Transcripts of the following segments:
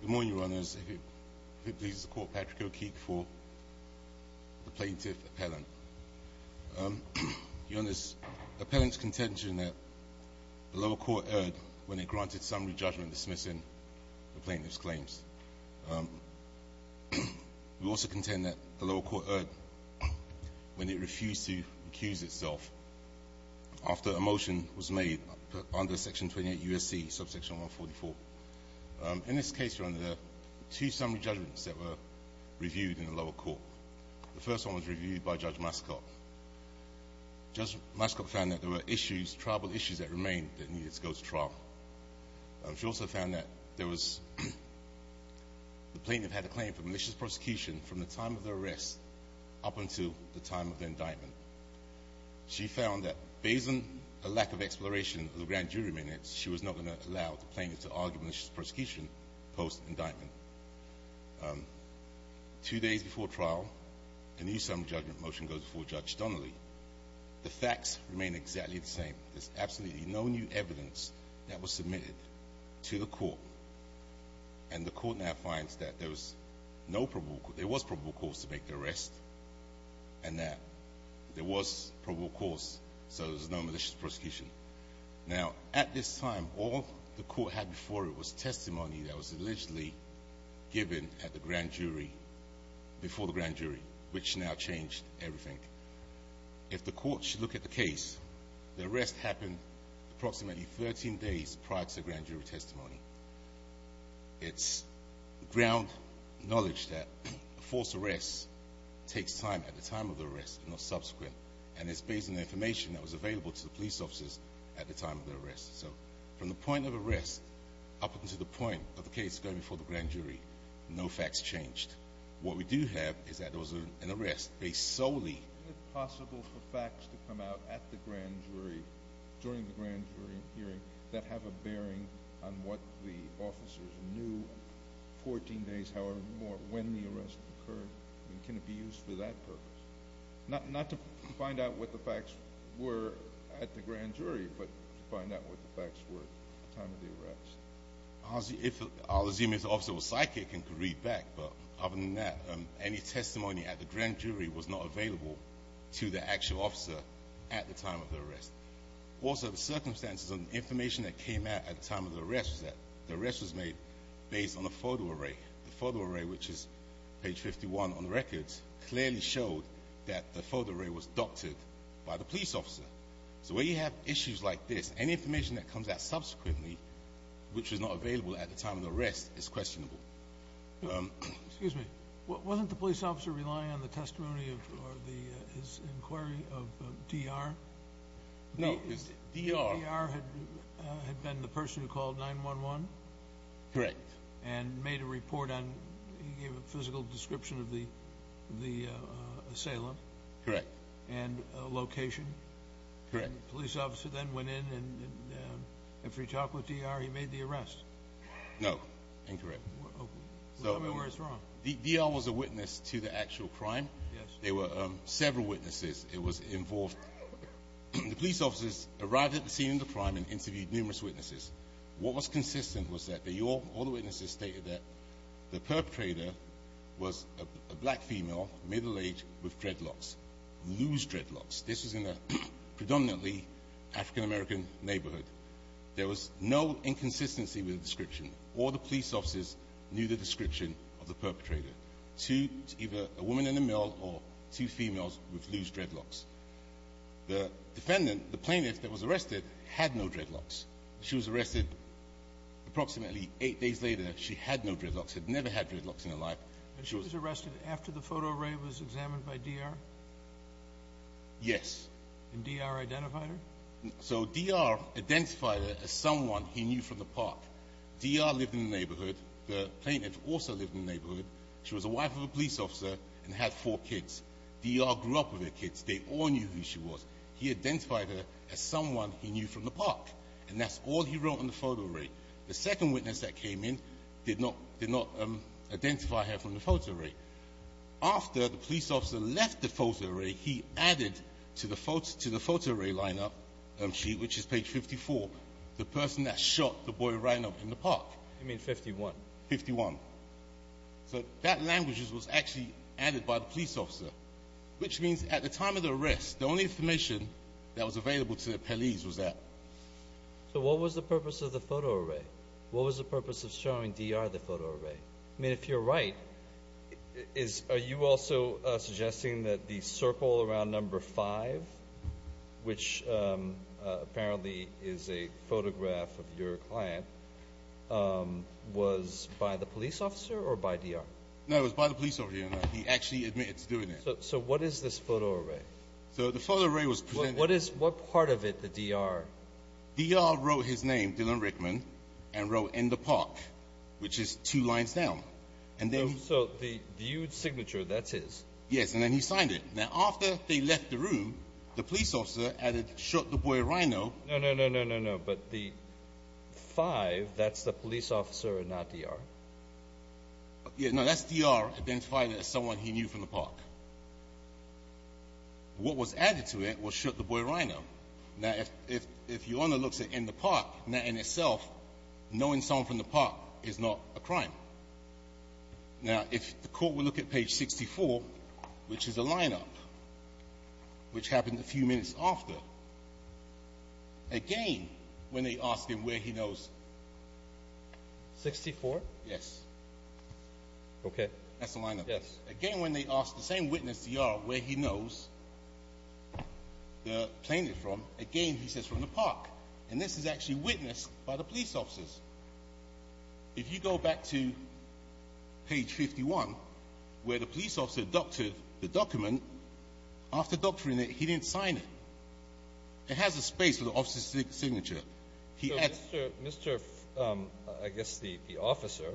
Good morning, Your Honours. If it pleases the Court, Patrick O'Keefe for the Plaintiff's Appellant. Your Honours, the Appellant's contention that the lower court erred when it granted summary judgment dismissing the plaintiff's claims. We also contend that the lower court erred when it refused to accuse itself after a motion was made under Section 28 U.S.C. subsection 144. In this case, Your Honour, two summary judgments that were reviewed in the lower court. The first one was reviewed by Judge Mascot. Judge Mascot found that there were issues, triable issues that remained that needed to go to trial. She also found that there was, the plaintiff had a claim for malicious prosecution from the time of the arrest up until the time of the exploration of the grand jury minutes. She was not going to allow the plaintiff to argue malicious prosecution post-indictment. Two days before trial, a new summary judgment motion goes before Judge Donnelly. The facts remain exactly the same. There's absolutely no new evidence that was submitted to the court and the court now finds that there was no probable, there was probable cause to make the arrest and that there was probable cause so there's no malicious prosecution. Now, at this time, all the court had before it was testimony that was allegedly given at the grand jury, before the grand jury, which now changed everything. If the court should look at the case, the arrest happened approximately 13 days prior to the grand jury testimony. It's ground knowledge that false arrests takes time at the time of the arrest and not subsequent and it's based on the information that was available to the police officers at the time of the arrest. So, from the point of arrest up into the point of the case going before the grand jury, no facts changed. What we do have is that there was an arrest based solely... Is it possible for facts to come out at the grand jury, during the grand jury hearing, that have a bearing on what the officers knew 14 days, however, more, when the arrest occurred? Can it be used for that purpose? Not to find out what the facts were at the grand jury, but to find out what the facts were at the time of the arrest. I'll assume if the officer was psychic and could read back, but other than that, any testimony at the grand jury was not available to the actual officer at the time of the arrest. Also, the circumstances and information that came out at the time of the arrest was that the arrest was made based on a photo array. The photo array, which is page 51 on the records, clearly showed that the photo array was doctored by the police. So, when you have issues like this, any information that comes out subsequently, which was not available at the time of the arrest, is questionable. Excuse me. Wasn't the police officer relying on the testimony or his inquiry of DR? DR had been the person who called 911? Correct. And made a report on, he gave a physical description of the assailant? Correct. And location? Correct. And the police officer then went in and, after he talked with DR, he made the arrest? No. Incorrect. DR was a witness to the actual crime? Yes. There were several witnesses. It was involved. The police officers arrived at the scene of the crime and interviewed numerous witnesses. What was consistent was that all the witnesses stated that the perpetrator was a black female, middle-aged, with dreadlocks, loose dreadlocks. This was in a predominantly African-American neighborhood. There was no inconsistency with the description. All the police officers knew the description of the perpetrator. Two, either a woman in a mill or two females with loose dreadlocks. The defendant, the plaintiff that was arrested, had no dreadlocks. She was arrested approximately eight days later. She had no dreadlocks, had never had dreadlocks in her life. And she was arrested after the photo array was examined by DR? Yes. And DR identified her? Yes. So DR identified her as someone he knew from the park. DR lived in the neighborhood. The plaintiff also lived in the neighborhood. She was a wife of a police officer and had four kids. DR grew up with her kids. They all knew who she was. He identified her as someone he knew from the park. And that's all he wrote in the photo array. The second witness that came in did not identify her from the photo array. After the police officer left the photo array, he added to the photo array line-up sheet, which is page 54, the person that shot the boy right in the park. You mean 51? 51. So that language was actually added by the police officer, which means at the time of the arrest, the only information that was available to the police was that. So what was the purpose of the photo array? What was the purpose of showing DR the photo array? I mean, if you're right, are you also suggesting that the circle around number five, which apparently is a photograph of your client, was by the police officer or by DR? No, it was by the police officer. He actually admits doing it. So what is this photo array? What part of it, the DR? DR wrote his name, Dylan Rickman, and wrote in the park, which is two lines down. So the signature, that's his? Yes, and then he signed it. Now, after they left the room, the police officer added, shot the boy Rhino. No, no, no, no, no, no. But the five, that's the police officer and not DR? No, that's DR identifying as someone he knew from the park. What was added to it was shot the boy Rhino. Now, if your owner looks at it in the park, that in itself, knowing someone from the park is not a crime. Now, if the court will look at page 64, which is a lineup, which happened a few minutes after, again, when they asked him where he knows. 64? Yes. Okay. That's a lineup. Yes. Again, when they asked the same witness, DR, where he knows the plaintiff from, again, he says from the park. And this is actually witnessed by the police officers. If you go back to page 51, where the police officer doctored the document, after doctoring it, he didn't sign it. It has a space for the officer's signature. Mr., I guess the officer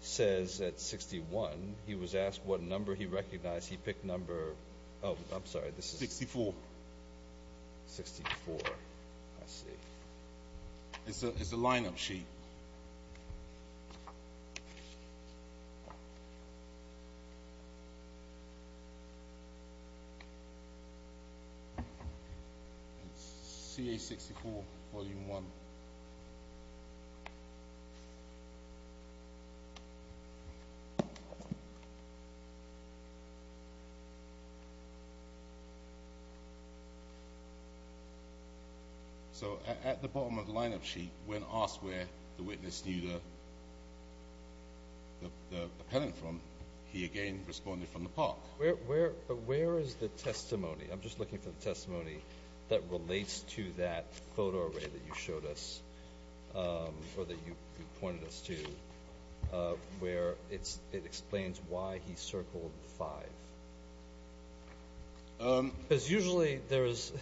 says at 61, he was asked what number he recognized. He picked number, oh, I'm sorry. 64. 64. I see. It's a lineup sheet. Okay. It's CA-64, Volume 1. Okay. So, at the bottom of the lineup sheet, when asked where the witness knew the appellant from, he again responded from the park. Where is the testimony? I'm just looking for the testimony that relates to that photo array that you showed us, or that you pointed us to, where it explains why he circled 5. Because usually there is,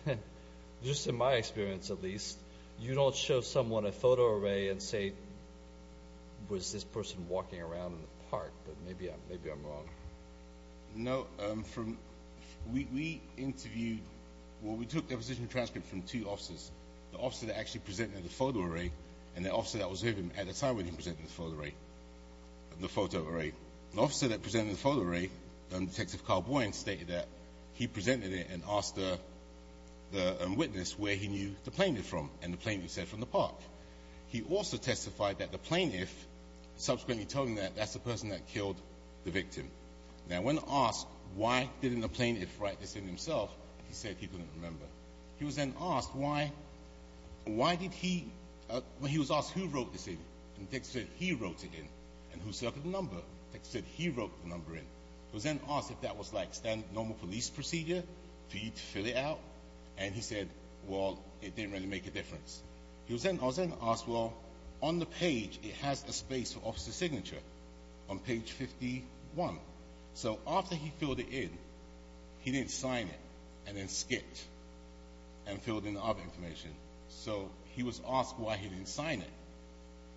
just in my experience at least, you don't show someone a photo array and say, was this person walking around in the park? But maybe I'm wrong. No, from, we interviewed, well, we took a position transcript from two officers. The officer that actually presented the photo array, and the officer that was with him at the time when he presented the photo array, the photo array. The officer that presented the photo array, Detective Carl Boyan, stated that he presented it and asked the witness where he knew the plaintiff from, and the plaintiff said from the park. He also testified that the plaintiff subsequently told him that that's the person that killed the victim. Now, when asked why didn't the plaintiff write this in himself, he said he couldn't remember. He was then asked why, why did he, he was asked who wrote this in, and the detective said he wrote it in. And who circled the number? The detective said he wrote the number in. He was then asked if that was like standard normal police procedure, for you to fill it out, and he said, well, it didn't really make a difference. He was then asked, well, on the page, it has a space for officer's signature, on page 51. So, after he filled it in, he didn't sign it, and then skipped, and filled in the other information. So, he was asked why he didn't sign it,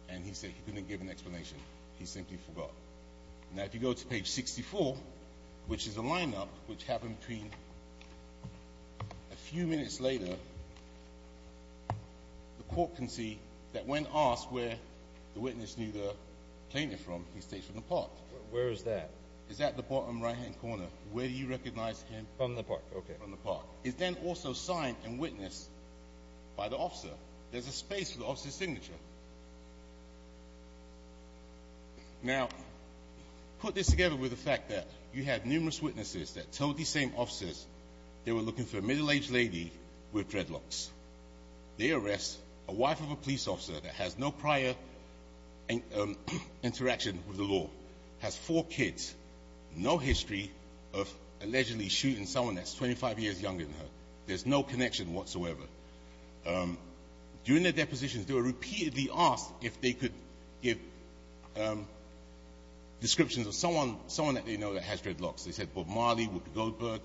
and he said he couldn't give an explanation. He simply forgot. Now, if you go to page 64, which is a lineup, which happened between a few minutes later, the court can see that when asked where the witness knew the plaintiff from, he states from the park. Where is that? It's at the bottom right-hand corner. Where do you recognize him? From the park. Okay, from the park. He's then also signed and witnessed by the officer. There's a space for the officer's signature. Now, put this together with the fact that you had numerous witnesses that told these same officers they were looking for a middle-aged lady with dreadlocks. They arrest a wife of a police officer that has no prior interaction with the law, has four kids, no history of allegedly shooting someone that's 25 years younger than her. There's no connection whatsoever. During their depositions, they were repeatedly asked if they could give descriptions of someone that they know that has dreadlocks. They said Bob Marley, Woodward Goldberg.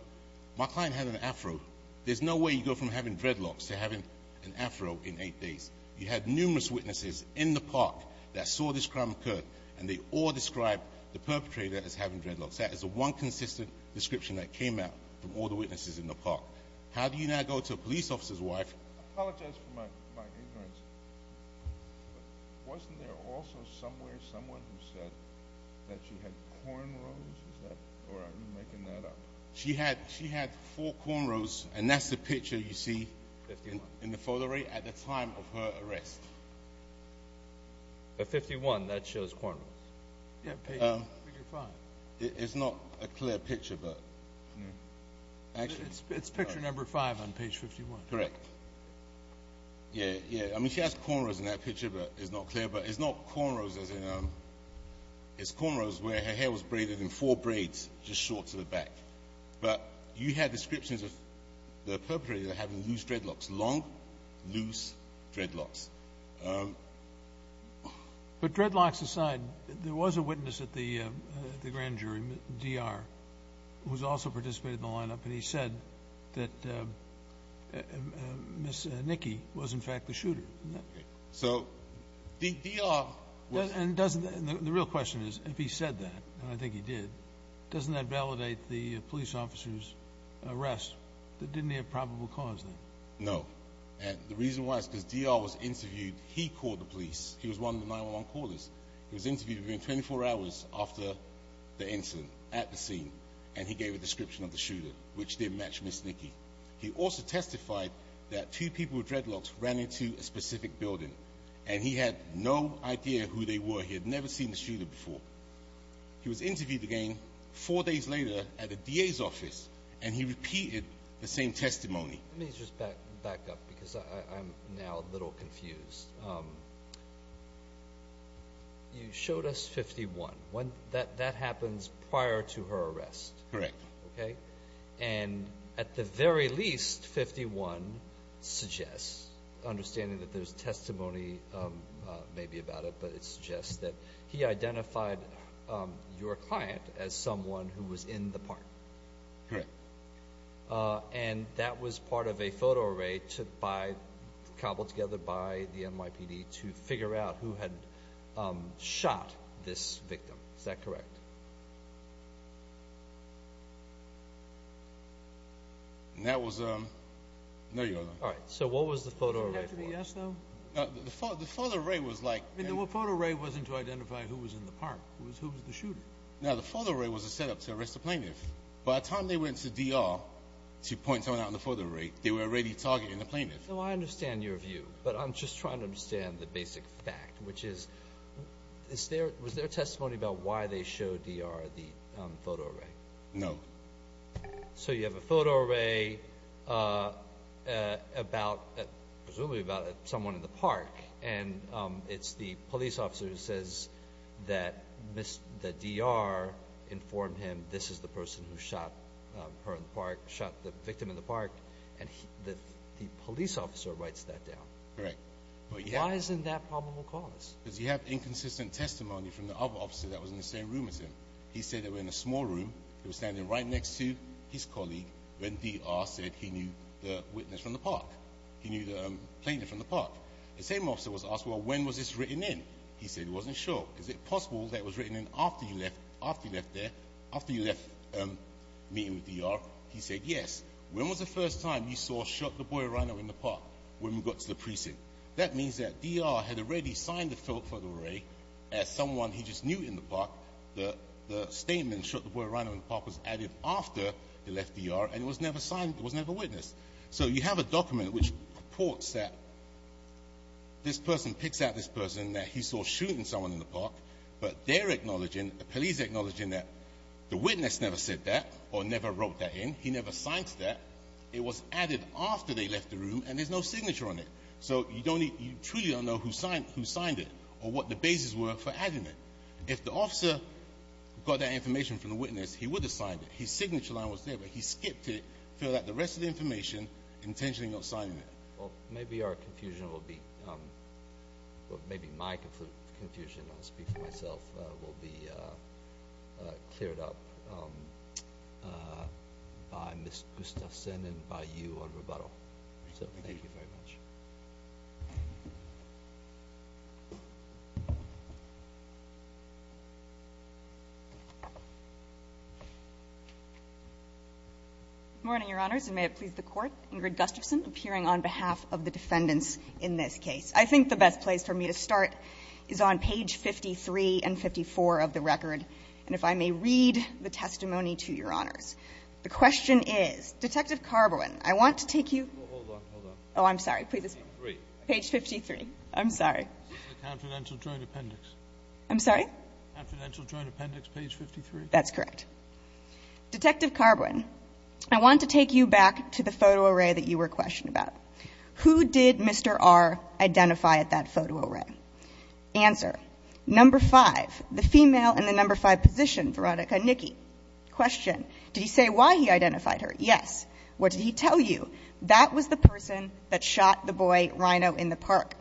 My client had an Afro. There's no way you go from having dreadlocks to having an Afro in eight days. You had numerous witnesses in the park that saw this crime occur, and they all described the perpetrator as having dreadlocks. That is the one consistent description that came out from all the witnesses in the park. How do you now go to a police officer's wife? I apologize for my ignorance. Wasn't there also somewhere someone who said that she had cornrows? Or are you making that up? She had four cornrows, and that's the picture you see in the photo at the time of her arrest. At 51, that shows cornrows. It's not a clear picture. It's picture number five on page 51. Correct. Yeah, yeah. I mean, she has cornrows in that picture, but it's not clear. But it's not cornrows. It's cornrows where her hair was braided in four braids just short to the back. But you had descriptions of the perpetrator having loose dreadlocks, long, loose dreadlocks. But dreadlocks aside, there was a witness at the grand jury, D.R., who's also participated in the lineup, and he said that Ms. Nicky was, in fact, the shooter. So D.R. was. And the real question is, if he said that, and I think he did, doesn't that validate the police officer's arrest that didn't have probable cause then? No. And the reason why is because D.R. was interviewed. He called the police. He was one of the 911 callers. He was interviewed within 24 hours after the incident at the scene, and he gave a description of the shooter, which didn't match Ms. Nicky. He also testified that two people with dreadlocks ran into a specific building, and he had no idea who they were. He had never seen the shooter before. He was interviewed again four days later at the DA's office, and he repeated the same testimony. Let me just back up because I'm now a little confused. You showed us 51. That happens prior to her arrest. Correct. Okay. And at the very least, 51 suggests, understanding that there's testimony maybe about it, but it suggests that he identified your client as someone who was in the park. Correct. And that was part of a photo array cobbled together by the NYPD to figure out who had shot this victim. Is that correct? No, Your Honor. All right. So what was the photo array for? Shouldn't that be a yes, though? No, the photo array was like... The photo array wasn't to identify who was in the park. It was who was the shooter. No, the photo array was a setup to arrest a plaintiff. By the time they went to D.R. to point someone out in the photo array, they were already targeting the plaintiff. So I understand your view, but I'm just trying to understand the basic fact, which is was there testimony about why they showed D.R. the photo array? No. So you have a photo array presumably about someone in the park, and it's the police officer who says that D.R. informed him this is the person who shot her in the park, shot the victim in the park, and the police officer writes that down. Correct. Why isn't that probable cause? Because you have inconsistent testimony from the other officer that was in the same room as him. He said they were in a small room. They were standing right next to his colleague when D.R. said he knew the witness from the park. He knew the plaintiff from the park. The same officer was asked, well, when was this written in? He said he wasn't sure. Is it possible that it was written in after he left there, after he left meeting with D.R.? He said yes. When was the first time you saw shot the boy or rhino in the park when we got to the precinct? That means that D.R. had already signed the photo array as someone he just knew in the park. The statement, shot the boy or rhino in the park, was added after he left D.R., and it was never signed, it was never witnessed. So you have a document which reports that this person picks out this person that he saw shooting someone in the park, but they're acknowledging, the police are acknowledging that the witness never said that or never wrote that in. He never signed that. It was added after they left the room, and there's no signature on it. So you don't need to truly know who signed it or what the basis were for adding it. If the officer got that information from the witness, he would have signed it. His signature line was there, but he skipped it, filled out the rest of the information, intentionally not signing it. Well, maybe our confusion will be, or maybe my confusion, I'll speak for myself, will be cleared up by Ms. Gustafson and by you on rebuttal. So thank you very much. Good morning, Your Honors, and may it please the Court. Ingrid Gustafson, appearing on behalf of the defendants in this case. I think the best place for me to start is on page 53 and 54 of the record. And if I may read the testimony to Your Honors. The question is, Detective Carbowin, I want to take you to the confidential joint appendix page 53. That's correct. Detective Carbowin, I want to take you back to the photo array that you were questioned about. Who did Mr. R identify at that photo array? Answer. Number five, the female in the number five position, Veronica Nicky. Question. Did he say why he identified her? Yes. What did he tell you? That was the person that shot the boy, Rhino, in the park.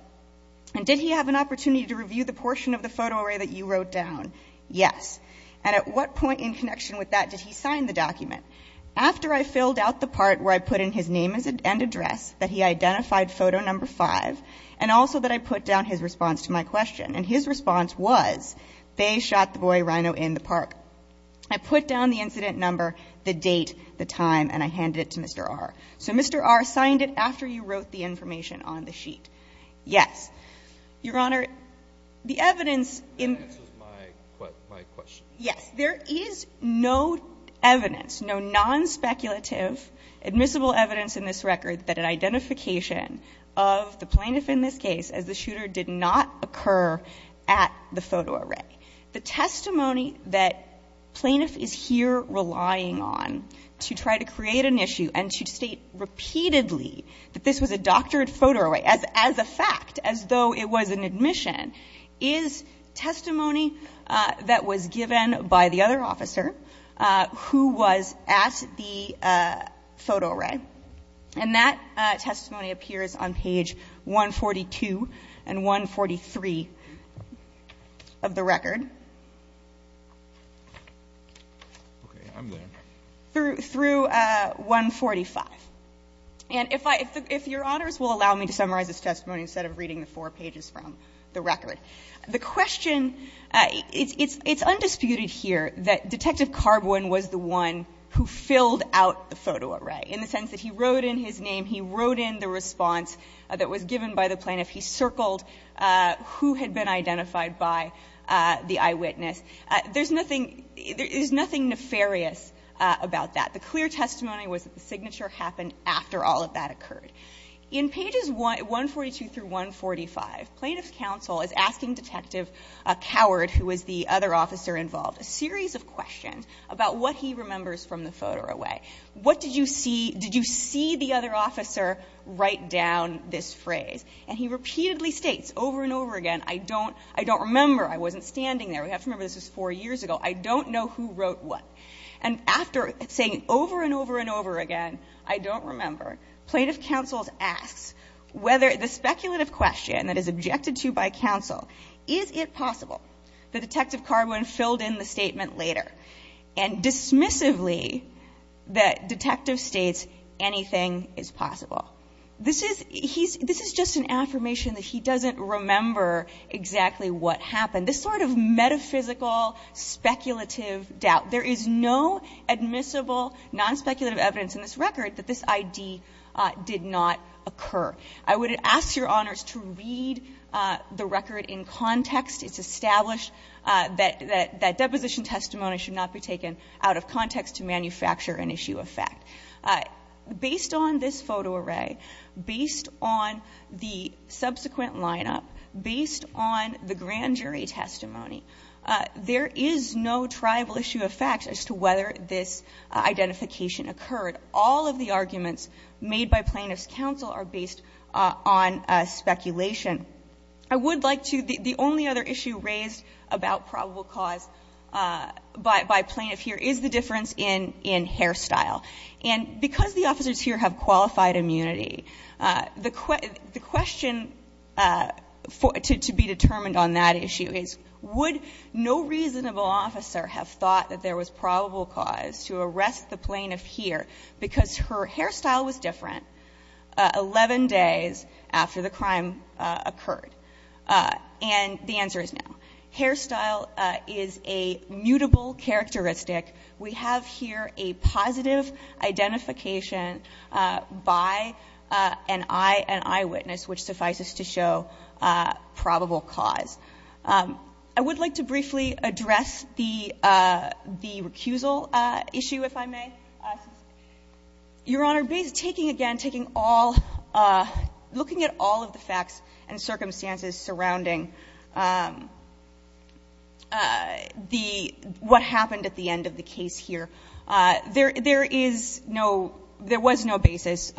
And did he have an opportunity to review the portion of the photo array that you wrote down? Yes. And at what point in connection with that did he sign the document? After I filled out the part where I put in his name and address, that he identified photo number five, and also that I put down his response to my question. And his response was, they shot the boy, Rhino, in the park. I put down the incident number, the date, the time, and I handed it to Mr. R. So Mr. R signed it after you wrote the information on the sheet. Yes. Your Honor, the evidence in ---- That answers my question. Yes. There is no evidence, no non-speculative admissible evidence in this record, that an identification of the plaintiff in this case as the shooter did not occur at the photo array. The testimony that plaintiff is here relying on to try to create an issue and to state repeatedly that this was a doctored photo array as a fact, as though it was an admission, is testimony that was given by the other officer who was at the photo array. And that testimony appears on page 142 and 143 of the record. Okay. I'm there. Through 145. And if I ---- if Your Honors will allow me to summarize this testimony instead of reading the four pages from the record. The question ---- it's undisputed here that Detective Carbwin was the one who filled out the photo array in the sense that he wrote in his name, he wrote in the response that was given by the plaintiff, he circled who had been identified by the eyewitness. There's nothing ---- there is nothing nefarious about that. The clear testimony was that the signature happened after all of that occurred. In pages 142 through 145, plaintiff's counsel is asking Detective Coward, who was the other officer involved, a series of questions about what he remembers from the photo array. What did you see ---- did you see the other officer write down this phrase? And he repeatedly states over and over again, I don't ---- I don't remember. I wasn't standing there. We have to remember this was four years ago. I don't know who wrote what. And after saying over and over and over again, I don't remember, plaintiff's counsel asks whether the speculative question that is objected to by counsel, is it possible that Detective Carbwin filled in the statement later and dismissively that Detective states anything is possible. This is ---- he's ---- this is just an affirmation that he doesn't remember exactly what happened. This sort of metaphysical speculative doubt, there is no admissible non-speculative evidence in this record that this ID did not occur. I would ask Your Honors to read the record in context. It's established that that deposition testimony should not be taken out of context to manufacture an issue of fact. Based on this photo array, based on the subsequent lineup, based on the grand jury testimony, there is no triable issue of fact as to whether this identification occurred. All of the arguments made by plaintiff's counsel are based on speculation. I would like to ---- the only other issue raised about probable cause by plaintiff here is the difference in hair style. And because the officers here have qualified immunity, the question to be determined on that issue is would no reasonable officer have thought that there was probable cause to arrest the plaintiff here because her hairstyle was different 11 days after the crime occurred? And the answer is no. Hairstyle is a mutable characteristic. We have here a positive identification by an eye, an eyewitness, which suffices to show probable cause. I would like to briefly address the recusal issue, if I may. Your Honor, taking again, taking all ---- looking at all of the facts and circumstances surrounding the ---- what happened at the end of the case here, there is no ---- there was no basis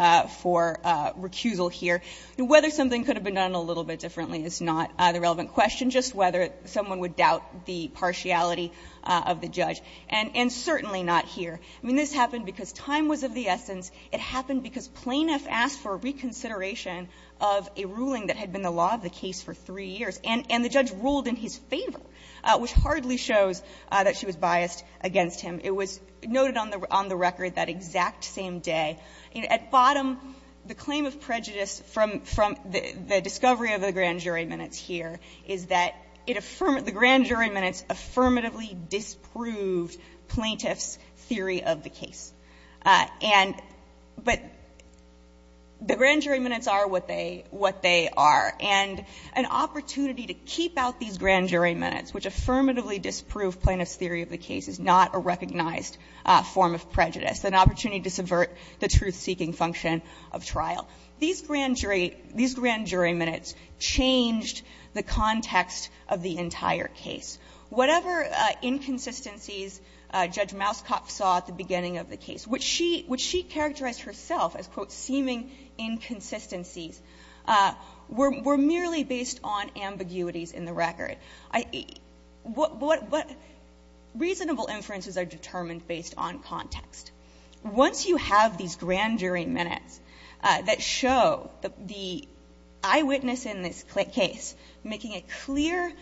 for recusal here. Whether something could have been done a little bit differently is not the relevant question, just whether someone would doubt the partiality of the judge. And certainly not here. I mean, this happened because time was of the essence. It happened because plaintiff asked for reconsideration of a ruling that had been the law of the case for 3 years. And the judge ruled in his favor, which hardly shows that she was biased against It was noted on the record that exact same day. At bottom, the claim of prejudice from the discovery of the grand jury minutes here is that the grand jury minutes affirmatively disproved plaintiff's theory of the case. And but the grand jury minutes are what they are. And an opportunity to keep out these grand jury minutes, which affirmatively disproved plaintiff's theory of the case, is not a recognized form of prejudice. An opportunity to subvert the truth-seeking function of trial. These grand jury minutes changed the context of the entire case. Whatever inconsistencies Judge Mauskopf saw at the beginning of the case, which she characterized herself as, quote, seeming inconsistencies, were merely based on ambiguities in the record. Reasonable inferences are determined based on context. Once you have these grand jury minutes that show the eyewitness in this case making a clear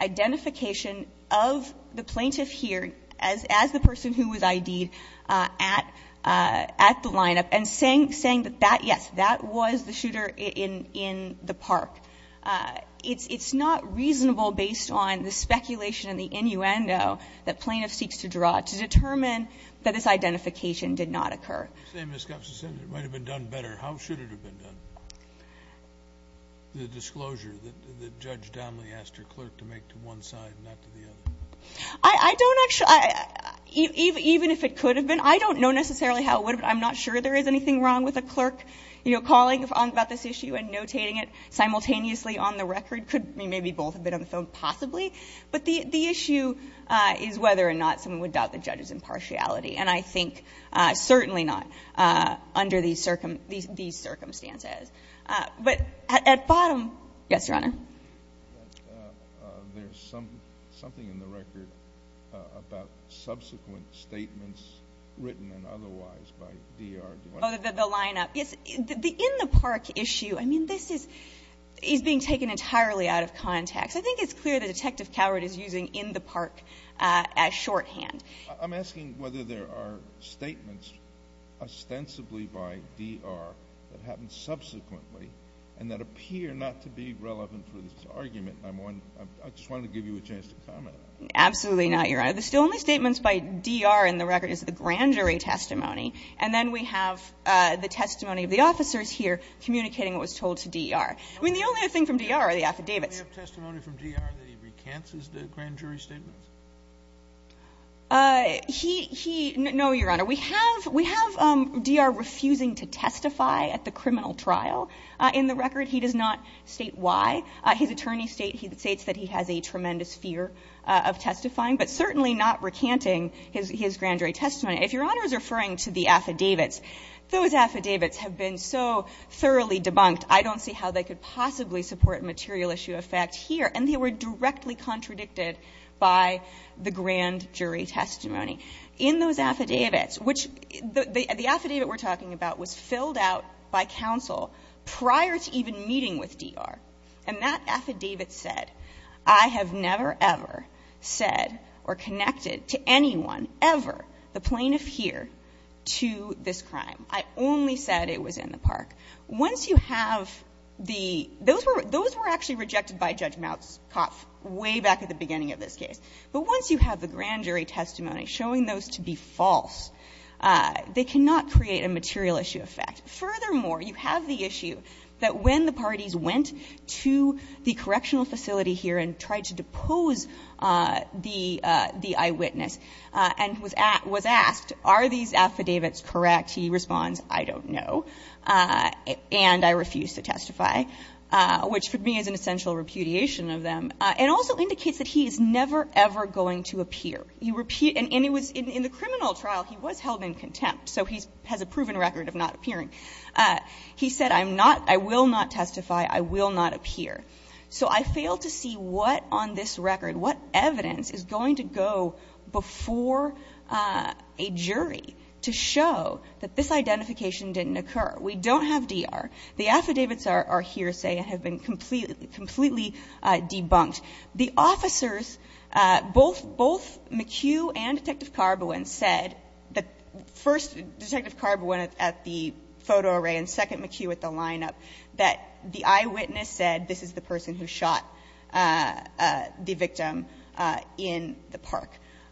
identification of the plaintiff here as the person who was ID'd at the lineup and saying that, yes, that was the shooter in the park. It's not reasonable based on the speculation and the innuendo that plaintiff seeks to draw to determine that this identification did not occur. You say Ms. Kopsis said it might have been done better. How should it have been done, the disclosure that Judge Donley asked her clerk to make to one side and not to the other? I don't actually, even if it could have been, I don't know necessarily how it would have been. I'm not sure there is anything wrong with a clerk, you know, calling about this issue and notating it simultaneously on the record. It could maybe both have been on the phone possibly. But the issue is whether or not someone would doubt the judge's impartiality. And I think certainly not under these circumstances. But at bottom, yes, Your Honor? There is something in the record about subsequent statements written and otherwise by D.R. Duane. Oh, the lineup. Yes, the in the park issue. I mean, this is being taken entirely out of context. I think it's clear that Detective Coward is using in the park as shorthand. I'm asking whether there are statements ostensibly by D.R. that happened subsequently and that appear not to be relevant for this argument. I just wanted to give you a chance to comment on that. Absolutely not, Your Honor. The only statements by D.R. in the record is the grand jury testimony. And then we have the testimony of the officers here communicating what was told to D.R. I mean, the only other thing from D.R. are the affidavits. Do we have testimony from D.R. that he recants his grand jury statements? He no, Your Honor. We have D.R. refusing to testify at the criminal trial in the record. He does not state why. His attorney states that he has a tremendous fear of testifying, but certainly not recanting his grand jury testimony. If Your Honor is referring to the affidavits, those affidavits have been so thoroughly debunked, I don't see how they could possibly support material issue effect here. And they were directly contradicted by the grand jury testimony. In those affidavits, which the affidavit we're talking about was filled out by counsel prior to even meeting with D.R., and that affidavit said, I have never, ever said or connected to anyone, ever, the plaintiff here, to this crime. I only said it was in the park. Once you have the – those were actually rejected by Judge Moutzkopf way back at the beginning of this case. But once you have the grand jury testimony showing those to be false, they cannot create a material issue effect. Furthermore, you have the issue that when the parties went to the correctional facility here and tried to depose the eyewitness and was asked, are these affidavits correct, he responds, I don't know, and I refuse to testify, which for me is an essential repudiation of them, and also indicates that he is never, ever going to appear. You repeat – and it was – in the criminal trial, he was held in contempt, so he has a proven record of not appearing. He said, I'm not – I will not testify. I will not appear. So I failed to see what on this record, what evidence is going to go before a jury to show that this identification didn't occur. We don't have D.R. The affidavits are here, say, and have been completely debunked. The officers, both McHugh and Detective Carbowin, said – first, Detective Carbowin at the photo array and second, McHugh at the lineup – that the eyewitness said, this is the person who shot the victim in the park.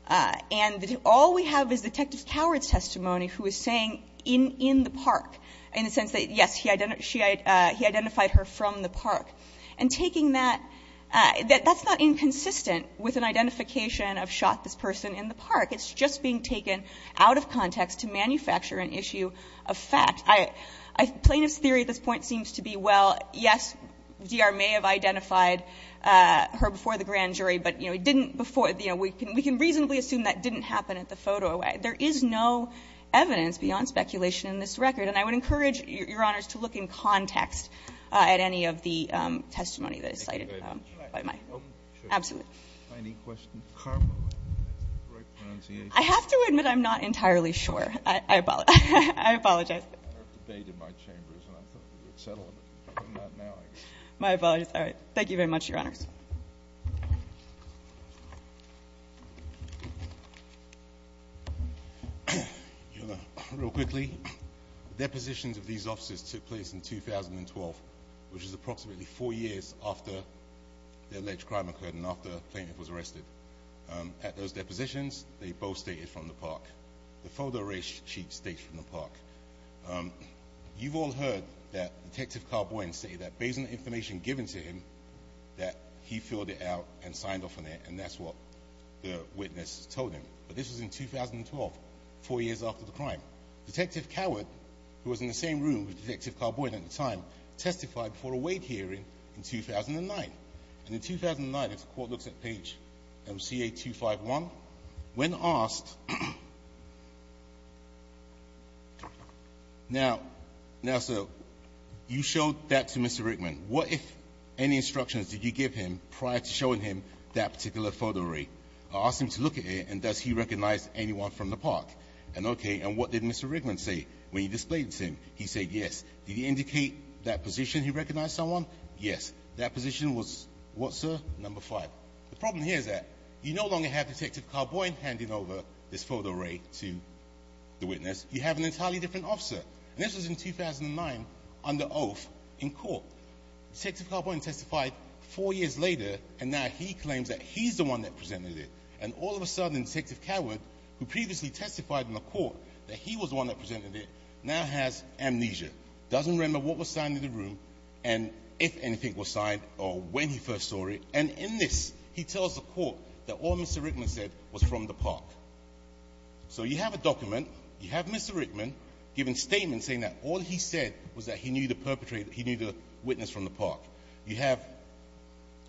And all we have is Detective Coward's testimony, who is saying, in the park, in the sense that, yes, he identified her from the park. And taking that – that's not inconsistent with an identification of shot this person in the park. It's just being taken out of context to manufacture an issue of fact. Plaintiff's theory at this point seems to be, well, yes, D.R. may have identified her before the grand jury, but, you know, it didn't before – you know, we can reasonably assume that didn't happen at the photo array. There is no evidence beyond speculation in this record. And I would encourage, Your Honors, to look in context at any of the testimony that is cited by my – absolutely. Any questions for Carbowin? I have to admit I'm not entirely sure. I apologize. I heard debate in my chambers, and I thought we would settle it. But not now, I guess. My apologies. All right. Thank you very much, Your Honors. Your Honor, real quickly, depositions of these officers took place in 2012, which is approximately four years after the alleged crime occurred and after Plaintiff was arrested. At those depositions, they both stated from the park. The photo array sheet states from the park. You've all heard that Detective Carbowin say that based on the information given to him that he filled it out and signed off on it, and that's what the witness told him. But this was in 2012, four years after the crime. Detective Coward, who was in the same room with Detective Carbowin at the time, testified before a weight hearing in 2009. And in 2009, as the Court looks at page MCA 251, when asked – now, sir, you showed that to Mr. Rickman. What if any instructions did you give him prior to showing him that particular photo array? I asked him to look at it, and does he recognize anyone from the park? And, okay, and what did Mr. Rickman say when you displayed it to him? He said yes. Did he indicate that position he recognized someone? Yes. That position was what, sir? Number five. The problem here is that you no longer have Detective Carbowin handing over this photo array to the witness. You have an entirely different officer. And this was in 2009 under oath in court. Detective Carbowin testified four years later, and now he claims that he's the one that presented it. And all of a sudden, Detective Coward, who previously testified in the court that he was the one that presented it, now has amnesia, doesn't remember what was signed in the room and if anything was signed or when he first saw it. And in this, he tells the court that all Mr. Rickman said was from the park. So you have a document. You have Mr. Rickman giving statements saying that all he said was that he knew the witness from the park. You have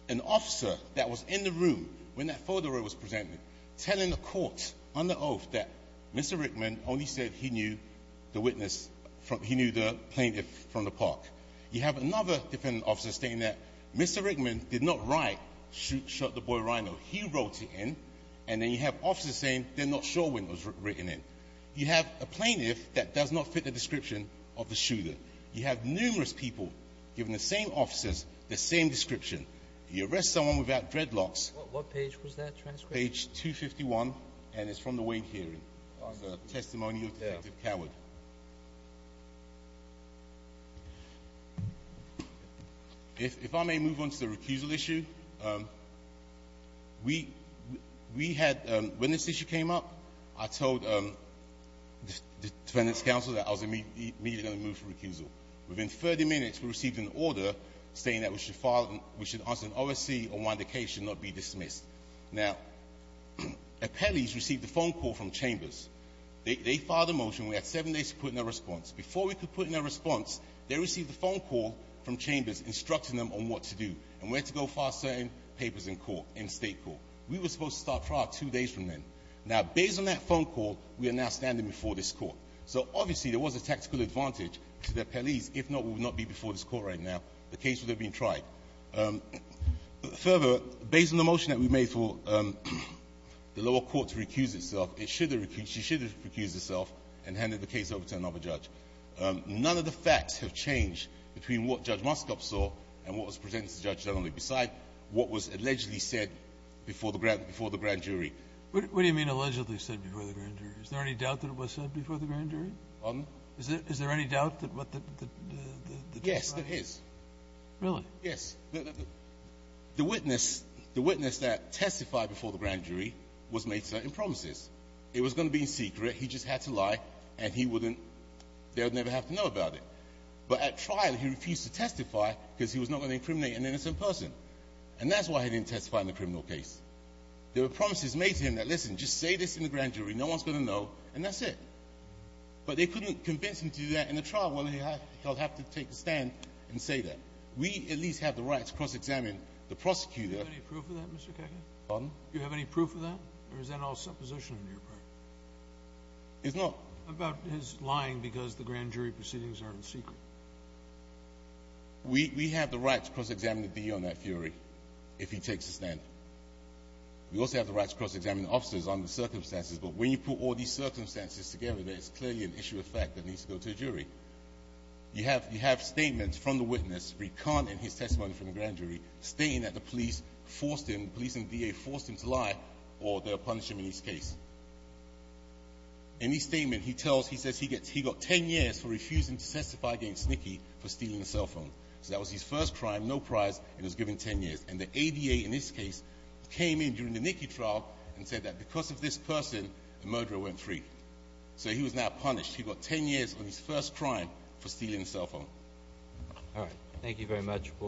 an officer that was in the room when that photo array was presented, telling the court under oath that Mr. Rickman only said he knew the plaintiff from the park. You have another defendant officer stating that Mr. Rickman did not write, shot the boy rhino. He wrote it in. And then you have officers saying they're not sure when it was written in. You have a plaintiff that does not fit the description of the shooter. You have numerous people giving the same officers the same description. You arrest someone without dreadlocks. What page was that transcript? Page 251, and it's from the Wayne hearing on the testimony of Detective Coward. If I may move on to the recusal issue, we had, when this issue came up, I told the defendant's counsel that I was immediately going to move for recusal. Within 30 minutes, we received an order saying that we should file, we should answer an OSC on why the case should not be dismissed. Now, appellees received a phone call from chambers. They filed a motion. We had seven days to put in a response. Before we could put in a response, they received a phone call from chambers instructing them on what to do and where to go file certain papers in court, in state court. We were supposed to start trial two days from then. Now, based on that phone call, we are now standing before this court. So, obviously, there was a tactical advantage to the appellees. If not, we would not be before this court right now. The case would have been tried. Further, based on the motion that we made for the lower court to recuse itself, it should have recused itself and handed the case over to another judge. None of the facts have changed between what Judge Moskop saw and what was presented to the judge generally, besides what was allegedly said before the grand jury. What do you mean allegedly said before the grand jury? Is there any doubt that it was said before the grand jury? Pardon? Is there any doubt that what the judge said? Yes, there is. Really? Yes. The witness that testified before the grand jury was made certain promises. It was going to be secret. He just had to lie, and he wouldn't – they would never have to know about it. But at trial, he refused to testify because he was not going to incriminate an innocent person. And that's why he didn't testify in the criminal case. There were promises made to him that, listen, just say this in the grand jury. No one's going to know, and that's it. But they couldn't convince him to do that in the trial. Well, he'll have to take a stand and say that. We at least have the right to cross-examine the prosecutor. Do you have any proof of that, Mr. Kagan? Pardon? It's not. About his lying because the grand jury proceedings are in secret. We have the right to cross-examine the DA on that theory if he takes a stand. We also have the right to cross-examine the officers on the circumstances, but when you put all these circumstances together, there is clearly an issue of fact that needs to go to a jury. You have statements from the witness, recanted in his testimony from the grand jury, stating that the police forced him, the police and the DA forced him to lie, or they'll punish him in his case. In his statement, he says he got 10 years for refusing to testify against Nicky for stealing a cell phone. So that was his first crime, no prize, and he was given 10 years. And the ADA, in this case, came in during the Nicky trial and said that because of this person, the murderer went free. So he was now punished. He got 10 years on his first crime for stealing a cell phone. All right. Thank you very much.